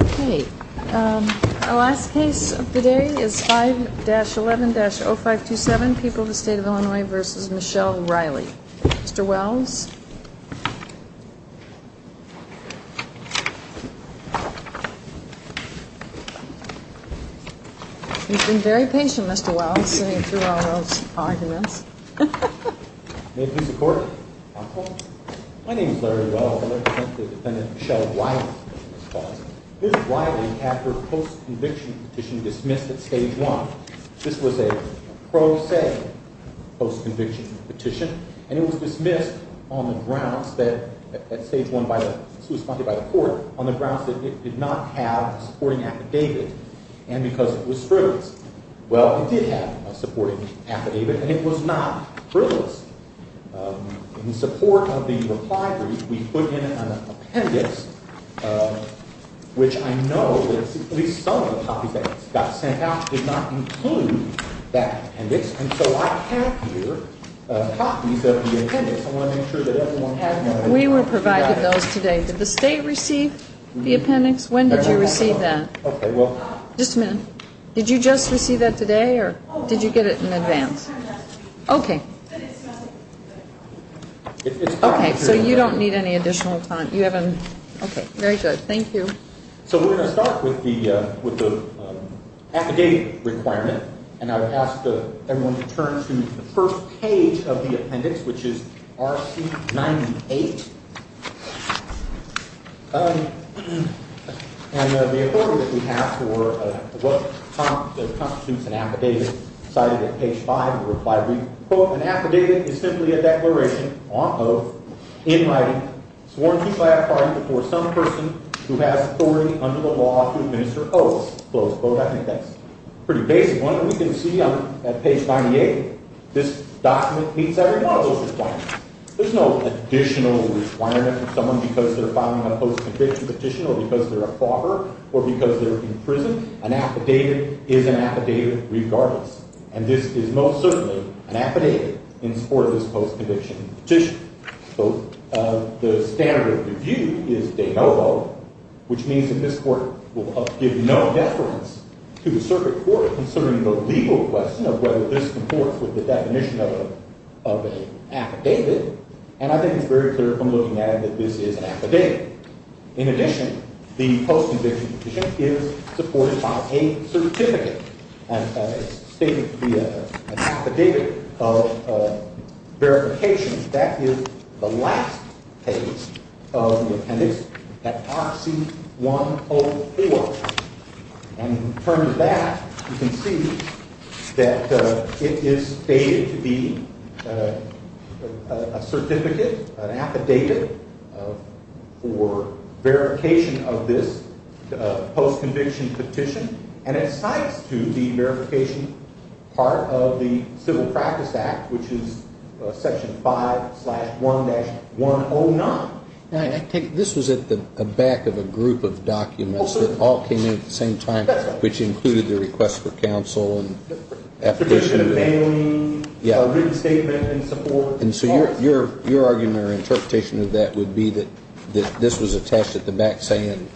Okay, our last case of the day is 5-11-0527, People of the State of Illinois v. Michelle Riley. Mr. Wells? He's been very patient, Mr. Wells, sitting through all those arguments. My name is Larry Wells. I represent the defendant Michelle Riley. Ms. Riley, after a post-conviction petition dismissed at Stage 1, this was a pro se post-conviction petition, and it was dismissed on the grounds that it did not have a supporting affidavit, and because it was frivolous. Well, it did have a supporting affidavit, and it was not frivolous. In support of the reply brief, we put in an appendix, which I know that at least some of the copies that got sent out did not include that appendix, and so I have here copies of the appendix. I want to make sure that everyone has one. We were provided those today. Did the state receive the appendix? When did you receive that? Just a minute. Did you just receive that today, or did you get it in advance? Okay. So you don't need any additional time. Very good. Thank you. So we're going to start with the affidavit requirement, and I would ask everyone to turn to the first page of the appendix, which is RC-98. And the authority that we have for what constitutes an affidavit cited at page 5 of the reply brief, quote, an affidavit is simply a declaration of, in writing, sworn to clarify before some person who has authority under the law to administer oaths. Close quote. I think that's a pretty basic one, and we can see on page 98, this document meets every one of those requirements. There's no additional requirement for someone because they're filing a post-conviction petition or because they're a proffer or because they're in prison. An affidavit is an affidavit regardless, and this is most certainly an affidavit in support of this post-conviction petition. So the standard of review is de novo, which means that this Court will give no deference to the circuit court considering the legal question of whether this comports with the definition of an affidavit, and I think it's very clear from looking at it that this is an affidavit. In addition, the post-conviction petition is supported by a certificate, and it's stated to be an affidavit of verification. That is the last page of the appendix, at Part C-104. And in terms of that, you can see that it is stated to be a certificate, an affidavit for verification of this post-conviction petition, and it cites to the verification part of the Civil Practice Act, which is Section 5-1-109. Now, I take it this was at the back of a group of documents that all came in at the same time, which included the request for counsel and application of bailing, a written statement in support. And so your argument or interpretation of that would be that this was attached at the back saying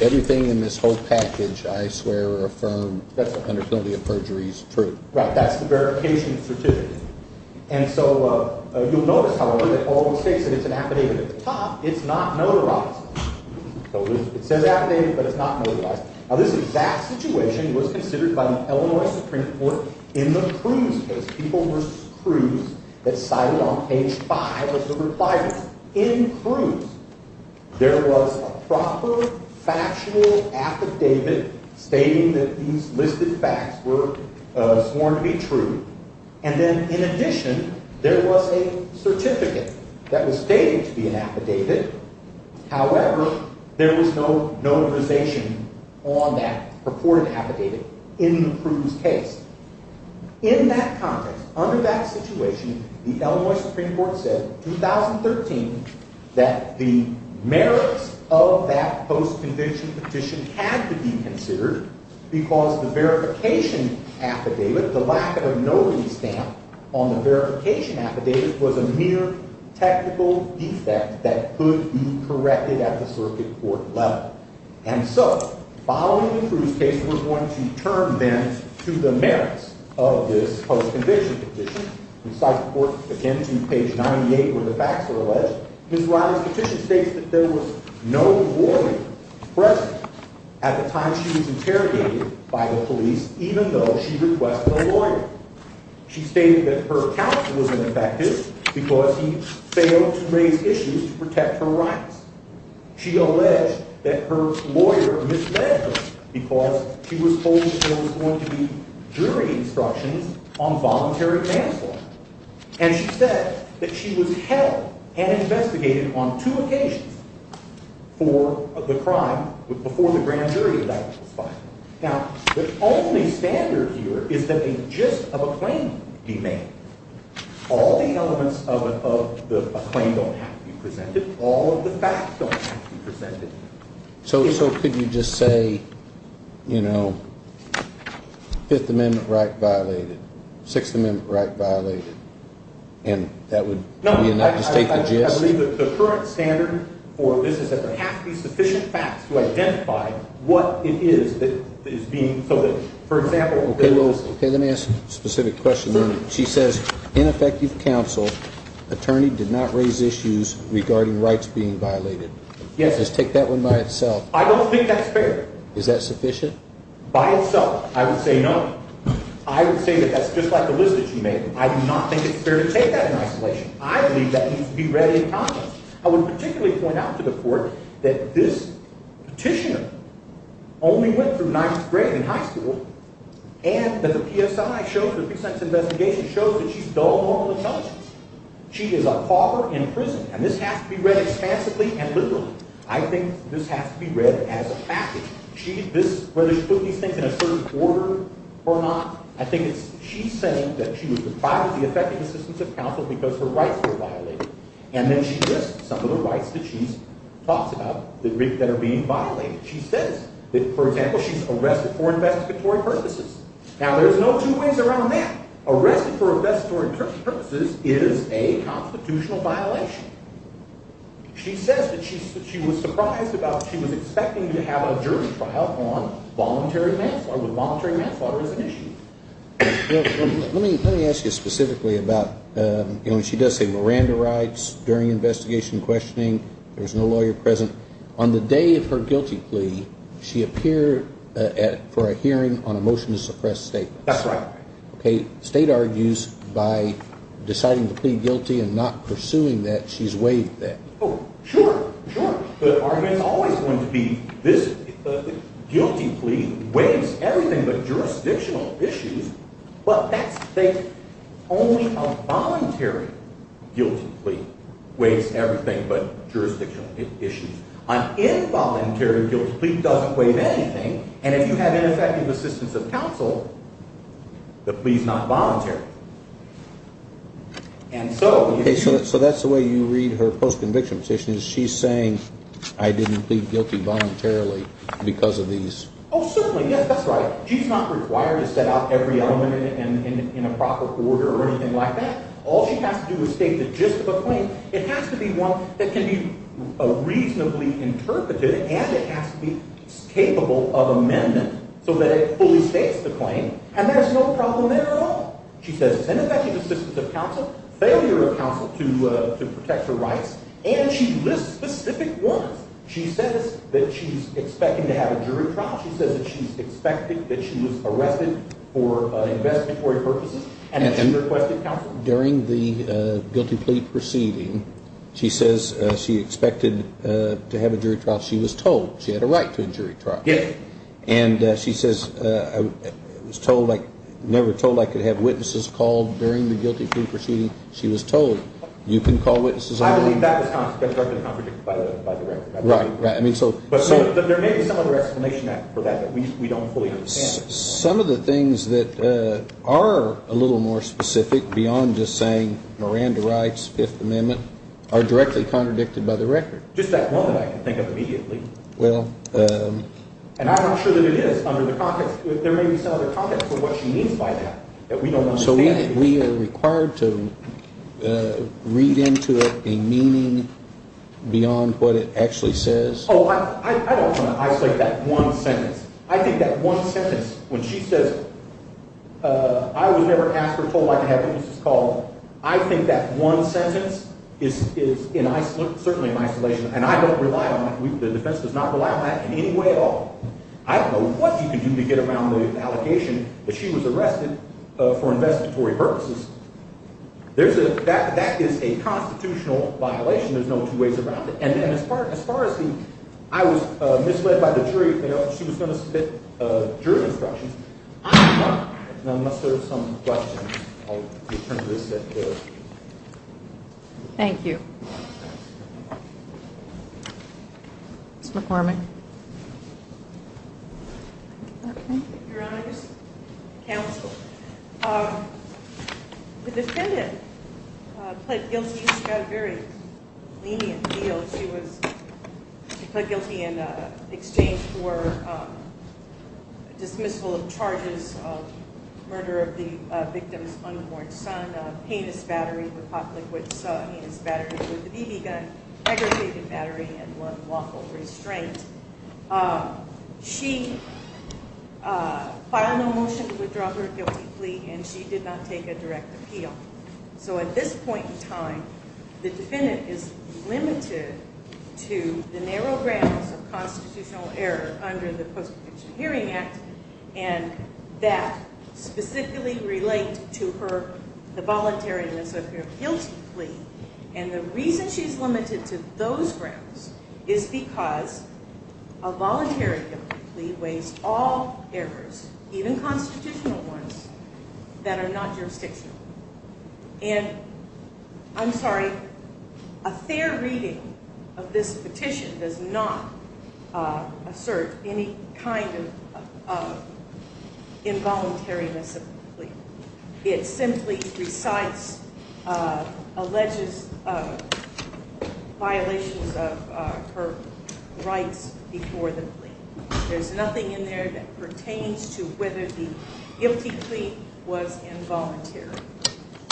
everything in this whole package, I swear or affirm, under penalty of perjury is true. Right. That's the verification certificate. And so you'll notice, however, that all states that it's an affidavit at the top. It's not notarized. It says affidavit, but it's not notarized. Now, this exact situation was considered by the Illinois Supreme Court in the Cruz case, People v. Cruz, that's cited on page 5 of the requirement. In Cruz, there was a proper factual affidavit stating that these listed facts were sworn to be true. And then, in addition, there was a certificate that was stated to be an affidavit. However, there was no notarization on that purported affidavit in the Cruz case. In that context, under that situation, the Illinois Supreme Court said in 2013 that the merits of that post-conviction petition had to be considered because the verification affidavit, the lack of a notary stamp on the verification affidavit was a mere technical defect that could be corrected at the circuit court level. And so, following the Cruz case, we're going to turn then to the merits of this post-conviction petition. We cite the court again to page 98 where the facts are alleged. Ms. Riley's petition states that there was no lawyer present at the time she was interrogated by the police, even though she requested a lawyer. She stated that her counsel was ineffective because he failed to raise issues to protect her rights. She alleged that her lawyer misled her because she was told there was going to be jury instructions on voluntary manslaughter. And she said that she was held and investigated on two occasions for the crime before the grand jury indictment was filed. Now, the only standard here is that a gist of a claim be made. All the elements of a claim don't have to be presented. All of the facts don't have to be presented. So could you just say, you know, Fifth Amendment right violated, Sixth Amendment right violated, and that would be enough to state the gist? No, I believe that the current standard for this is that there have to be sufficient facts to identify what it is that is being, so that, for example, Okay, let me ask a specific question then. She says, ineffective counsel, attorney did not raise issues regarding rights being violated. Yes. Just take that one by itself. I don't think that's fair. Is that sufficient? By itself, I would say no. I would say that that's just like the list that she made. I do not think it's fair to take that in isolation. I believe that needs to be read in context. I would particularly point out to the court that this petitioner only went through ninth grade in high school, and that the PSI shows, the precise investigation shows that she's dull moral intelligence. She is a pauper in prison, and this has to be read expansively and literally. I think this has to be read as a package. Whether she put these things in a certain order or not, I think she's saying that she was deprived of the effective assistance of counsel because her rights were violated. And then she lists some of the rights that she talks about that are being violated. She says that, for example, she's arrested for investigatory purposes. Now, there's no two ways around that. Arrested for investigatory purposes is a constitutional violation. She says that she was surprised about she was expecting to have a jury trial on voluntary manslaughter, with voluntary manslaughter as an issue. Let me ask you specifically about, you know, when she does say Miranda rights during investigation and questioning, there's no lawyer present. On the day of her guilty plea, she appeared for a hearing on a motion to suppress statements. That's right. Okay. State argues by deciding to plead guilty and not pursuing that she's waived that. Oh, sure, sure. The argument is always going to be this guilty plea waives everything but jurisdictional issues, but that's fake. Only a voluntary guilty plea waives everything but jurisdictional issues. An involuntary guilty plea doesn't waive anything. And if you have ineffective assistance of counsel, the plea's not voluntary. And so if you – Okay, so that's the way you read her post-conviction petition is she's saying I didn't plead guilty voluntarily because of these – Oh, certainly. Yes, that's right. She's not required to set out every element in a proper order or anything like that. All she has to do is state the gist of a claim. It has to be one that can be reasonably interpreted and it has to be capable of amendment so that it fully states the claim. And there's no problem there at all. She says it's ineffective assistance of counsel, failure of counsel to protect her rights, and she lists specific ones. She says that she's expecting to have a jury trial. She says that she's expecting that she was arrested for investigatory purposes. During the guilty plea proceeding, she says she expected to have a jury trial. She was told she had a right to a jury trial. Yes. And she says I was never told I could have witnesses called during the guilty plea proceeding. She was told you can call witnesses. I believe that was contradicted by the record. Right, right. But there may be some other explanation for that that we don't fully understand. Some of the things that are a little more specific beyond just saying Miranda rights, Fifth Amendment, are directly contradicted by the record. Just that one that I can think of immediately. Well. And I'm not sure that it is under the context. There may be some other context for what she means by that that we don't understand. So we are required to read into it a meaning beyond what it actually says? Oh, I don't want to isolate that one sentence. I think that one sentence, when she says I was never asked or told I could have witnesses called, I think that one sentence is certainly in isolation. And I don't rely on that. The defense does not rely on that in any way at all. I don't know what you can do to get around the allegation that she was arrested for investigatory purposes. That is a constitutional violation. There's no two ways around it. And as far as the I was misled by the jury, she was going to submit jury instructions. Now, unless there are some questions, I'll return to this. Thank you. Ms. McCormick. Your Honor, just counsel. The defendant pled guilty. She got a very lenient deal. She pled guilty in exchange for dismissal of charges of murder of the victim's unborn son, a penis battery with hot liquids, a penis battery with a BB gun, a segregated battery, and one lawful restraint. She filed no motion to withdraw her guilty plea, and she did not take a direct appeal. So at this point in time, the defendant is limited to the narrow grounds of constitutional error under the Post-Protection Hearing Act, and that specifically relates to her, the voluntariness of her guilty plea. And the reason she's limited to those grounds is because a voluntary guilty plea weighs all errors, even constitutional ones, that are not jurisdictional. And I'm sorry, a fair reading of this petition does not assert any kind of involuntariness of the plea. It simply recites, alleges violations of her rights before the plea. There's nothing in there that pertains to whether the guilty plea was involuntary.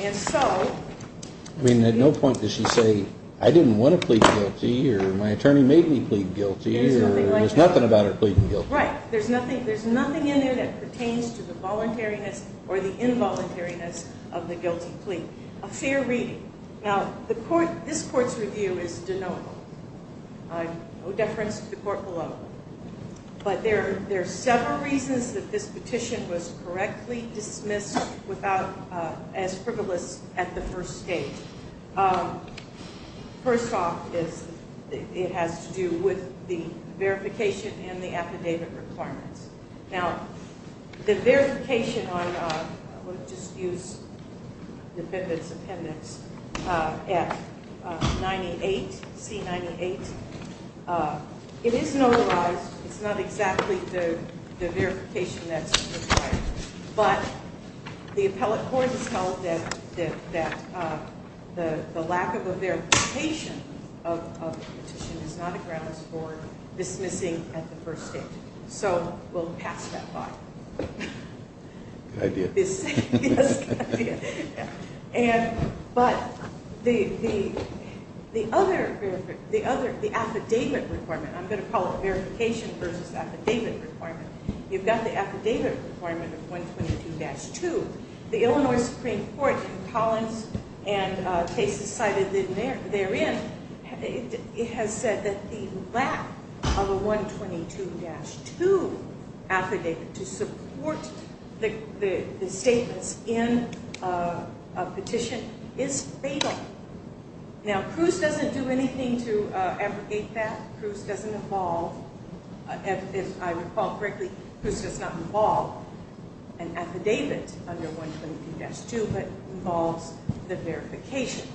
And so. I mean, at no point does she say, I didn't want to plead guilty, or my attorney made me plead guilty, or there's nothing about her pleading guilty. Right, there's nothing in there that pertains to the voluntariness or the involuntariness of the guilty plea. A fair reading. Now, this court's review is denotable. No deference to the court below. But there are several reasons that this petition was correctly dismissed as frivolous at the first stage. First off, it has to do with the verification and the affidavit requirements. Now, the verification on, let me just use the defendant's appendix, F98, C98. It is notarized. It's not exactly the verification that's required. But the appellate court has held that the lack of a verification of the petition is not a grounds for dismissing at the first stage. So we'll pass that by. Good idea. Yes, good idea. But the other affidavit requirement, I'm going to call it verification versus affidavit requirement. You've got the affidavit requirement of 122-2. The Illinois Supreme Court in Collins and cases cited therein, it has said that the lack of a 122-2 affidavit to support the statements in a petition is fatal. Now, Cruz doesn't do anything to abrogate that. Cruz doesn't involve, if I recall correctly, Cruz does not involve an affidavit under 122-2, but involves the verification.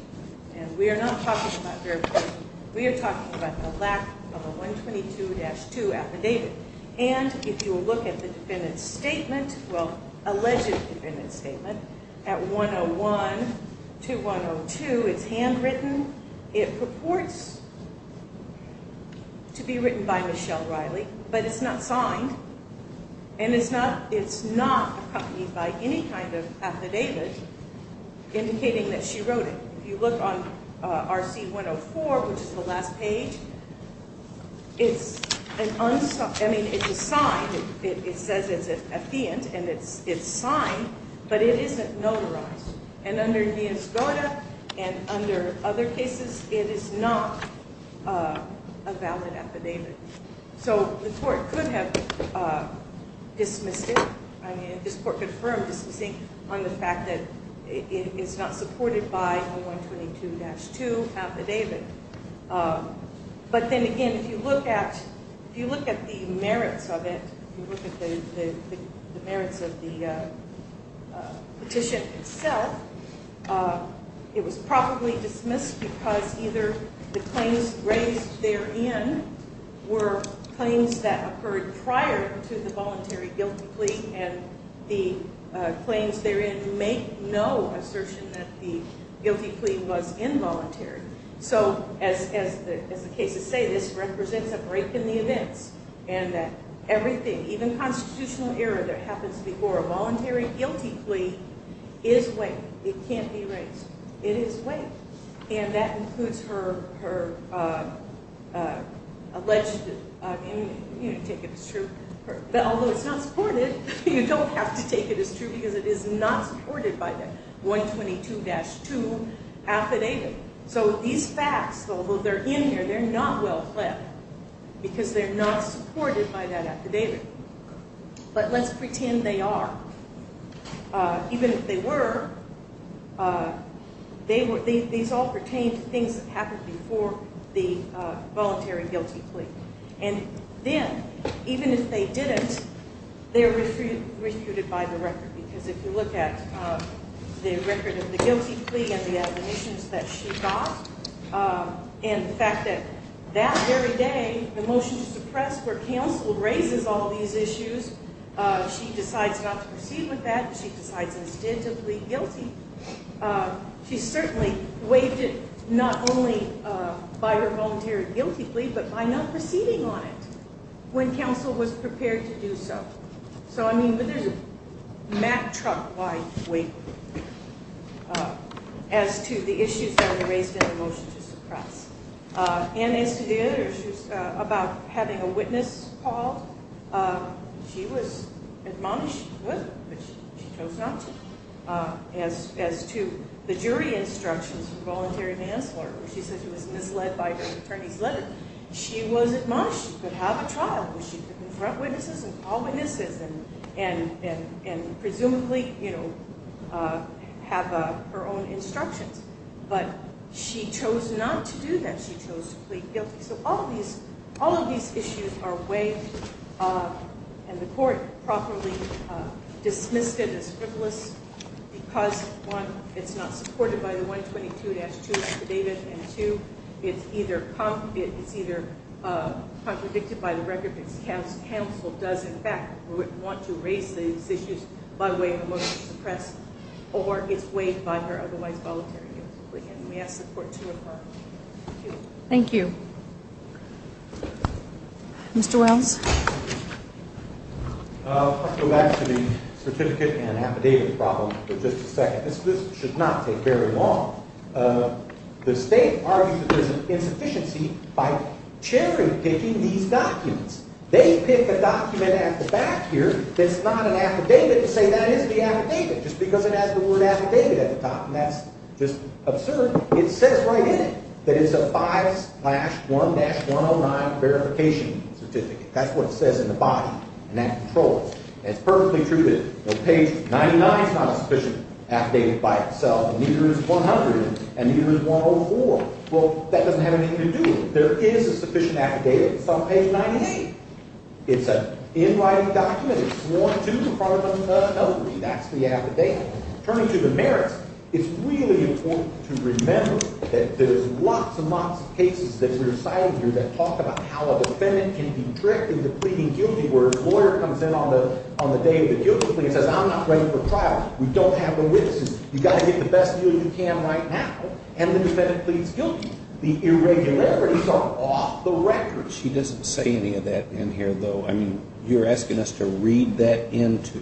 And we are not talking about verification. We are talking about the lack of a 122-2 affidavit. And if you look at the defendant's statement, well, alleged defendant's statement, at 101-102, it's handwritten. It purports to be written by Michelle Riley, but it's not signed. And it's not accompanied by any kind of affidavit indicating that she wrote it. If you look on RC-104, which is the last page, it's a sign. It says it's a theant, and it's signed, but it isn't notarized. And under Villas-Gota and under other cases, it is not a valid affidavit. So the court could have dismissed it. I mean, this court confirmed dismissing on the fact that it is not supported by a 122-2 affidavit. But then again, if you look at the merits of it, if you look at the merits of the petition itself, it was probably dismissed because either the claims raised therein were claims that occurred prior to the voluntary guilty plea, and the claims therein make no assertion that the guilty plea was involuntary. So as the cases say, this represents a break in the events, and that everything, even constitutional error that happens before a voluntary guilty plea is weight. It can't be raised. It is weight, and that includes her alleged, you know, take it as true. Although it's not supported, you don't have to take it as true because it is not supported by the 122-2 affidavit. So these facts, although they're in here, they're not well-fled because they're not supported by that affidavit. But let's pretend they are. Even if they were, these all pertain to things that happened before the voluntary guilty plea. And then, even if they didn't, they're refuted by the record because if you look at the record of the guilty plea and the admonitions that she got, and the fact that that very day, the motion to suppress for counsel raises all these issues. She decides not to proceed with that. She decides instead to plead guilty. She certainly waived it not only by her voluntary guilty plea but by not proceeding on it when counsel was prepared to do so. So, I mean, there's a mat-truck-wide weight as to the issues that were raised in the motion to suppress. And as to the other issues about having a witness called, she was admonished, but she chose not to. As to the jury instructions for voluntary manslaughter where she said she was misled by her attorney's letter, she was admonished. She could have a trial where she could confront witnesses and call witnesses and presumably, you know, have her own instructions. But she chose not to do that. She chose to plead guilty. So all of these issues are waived and the court properly dismissed it as frivolous because, one, it's not supported by the 122-2 affidavit, and, two, it's either contradicted by the record because counsel does, in fact, want to raise these issues by way of a motion to suppress or it's waived by her otherwise voluntary guilty plea. And we ask the court to approve. Thank you. Mr. Wells? I'll go back to the certificate and affidavit problem for just a second. This should not take very long. The state argues that there's an insufficiency by cherry-picking these documents. They pick a document at the back here that's not an affidavit to say that is the affidavit just because it has the word affidavit at the top, and that's just absurd. It says right in it that it's a 5-1-109 verification certificate. That's what it says in the body, and that controls it. And it's perfectly true that page 99 is not a sufficient affidavit by itself, neither is 100, and neither is 104. Well, that doesn't have anything to do with it. There is a sufficient affidavit. It's on page 98. It's an in-writing document. It's sworn to in front of the felony. That's the affidavit. Turning to the merits, it's really important to remember that there's lots and lots of cases that we're citing here that talk about how a defendant can be tricked into pleading guilty where a lawyer comes in on the day of the guilty plea and says, I'm not ready for trial. We don't have the witnesses. You've got to get the best deal you can right now, and the defendant pleads guilty. The irregularities are off the record. She doesn't say any of that in here, though. I mean, you're asking us to read that into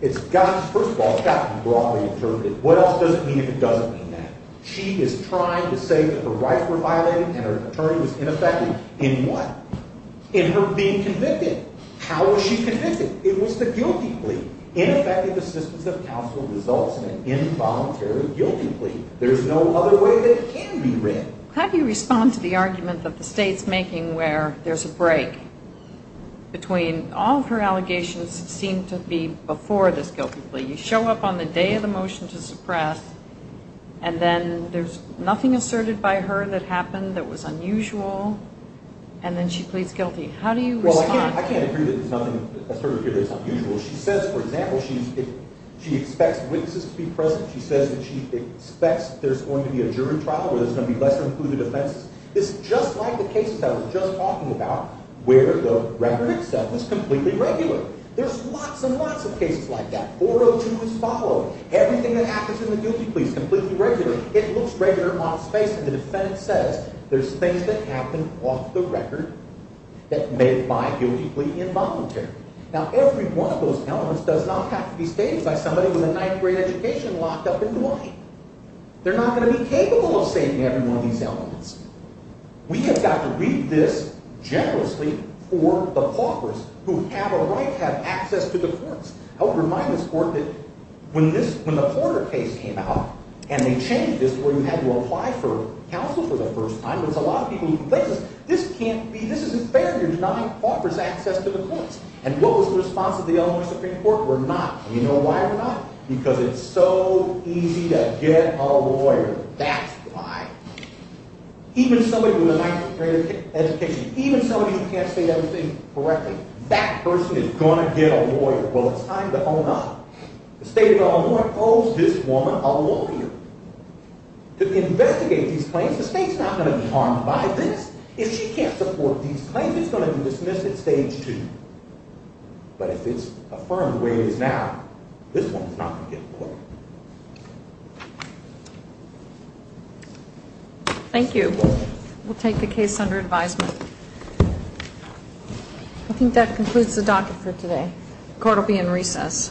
it. First of all, it's got to be broadly interpreted. What else does it mean if it doesn't mean that? She is trying to say that the rights were violated and her attorney was ineffective in what? In her being convicted. How was she convicted? It was the guilty plea. Ineffective assistance of counsel results in an involuntary guilty plea. There's no other way that can be read. How do you respond to the argument that the state's making where there's a break between all of her allegations seem to be before this guilty plea? You show up on the day of the motion to suppress, and then there's nothing asserted by her that happened that was unusual, and then she pleads guilty. How do you respond? Well, I can't agree that there's nothing asserted here that's unusual. She says, for example, she expects witnesses to be present. She says that she expects there's going to be a jury trial where there's going to be lesser-included offenses. This is just like the cases I was just talking about where the record itself was completely regular. There's lots and lots of cases like that. 402 was followed. Everything that happens in the guilty plea is completely regular. It looks regular, modest-faced, and the defendant says there's things that happened off the record that may lie guiltily involuntary. Now, every one of those elements does not have to be stated by somebody with a ninth-grade education locked up in Duane. They're not going to be capable of stating every one of these elements. We have got to read this generously for the paupers who have a right to have access to the courts. I would remind this court that when the Porter case came out and they changed this where you had to apply for counsel for the first time, this can't be, this is unfair. You're denying paupers access to the courts. And what was the response of the Illinois Supreme Court? We're not. And you know why we're not? Because it's so easy to get a lawyer. That's why. Even somebody with a ninth-grade education, even somebody who can't state everything correctly, that person is going to get a lawyer. Well, it's time to own up. The state of Illinois owes this woman a lawyer. To investigate these claims, the state's not going to be harmed by this. If she can't support these claims, it's going to be dismissed at stage two. But if it's affirmed the way it is now, this one's not going to get a lawyer. Thank you. We'll take the case under advisement. I think that concludes the docket for today. Court will be in recess.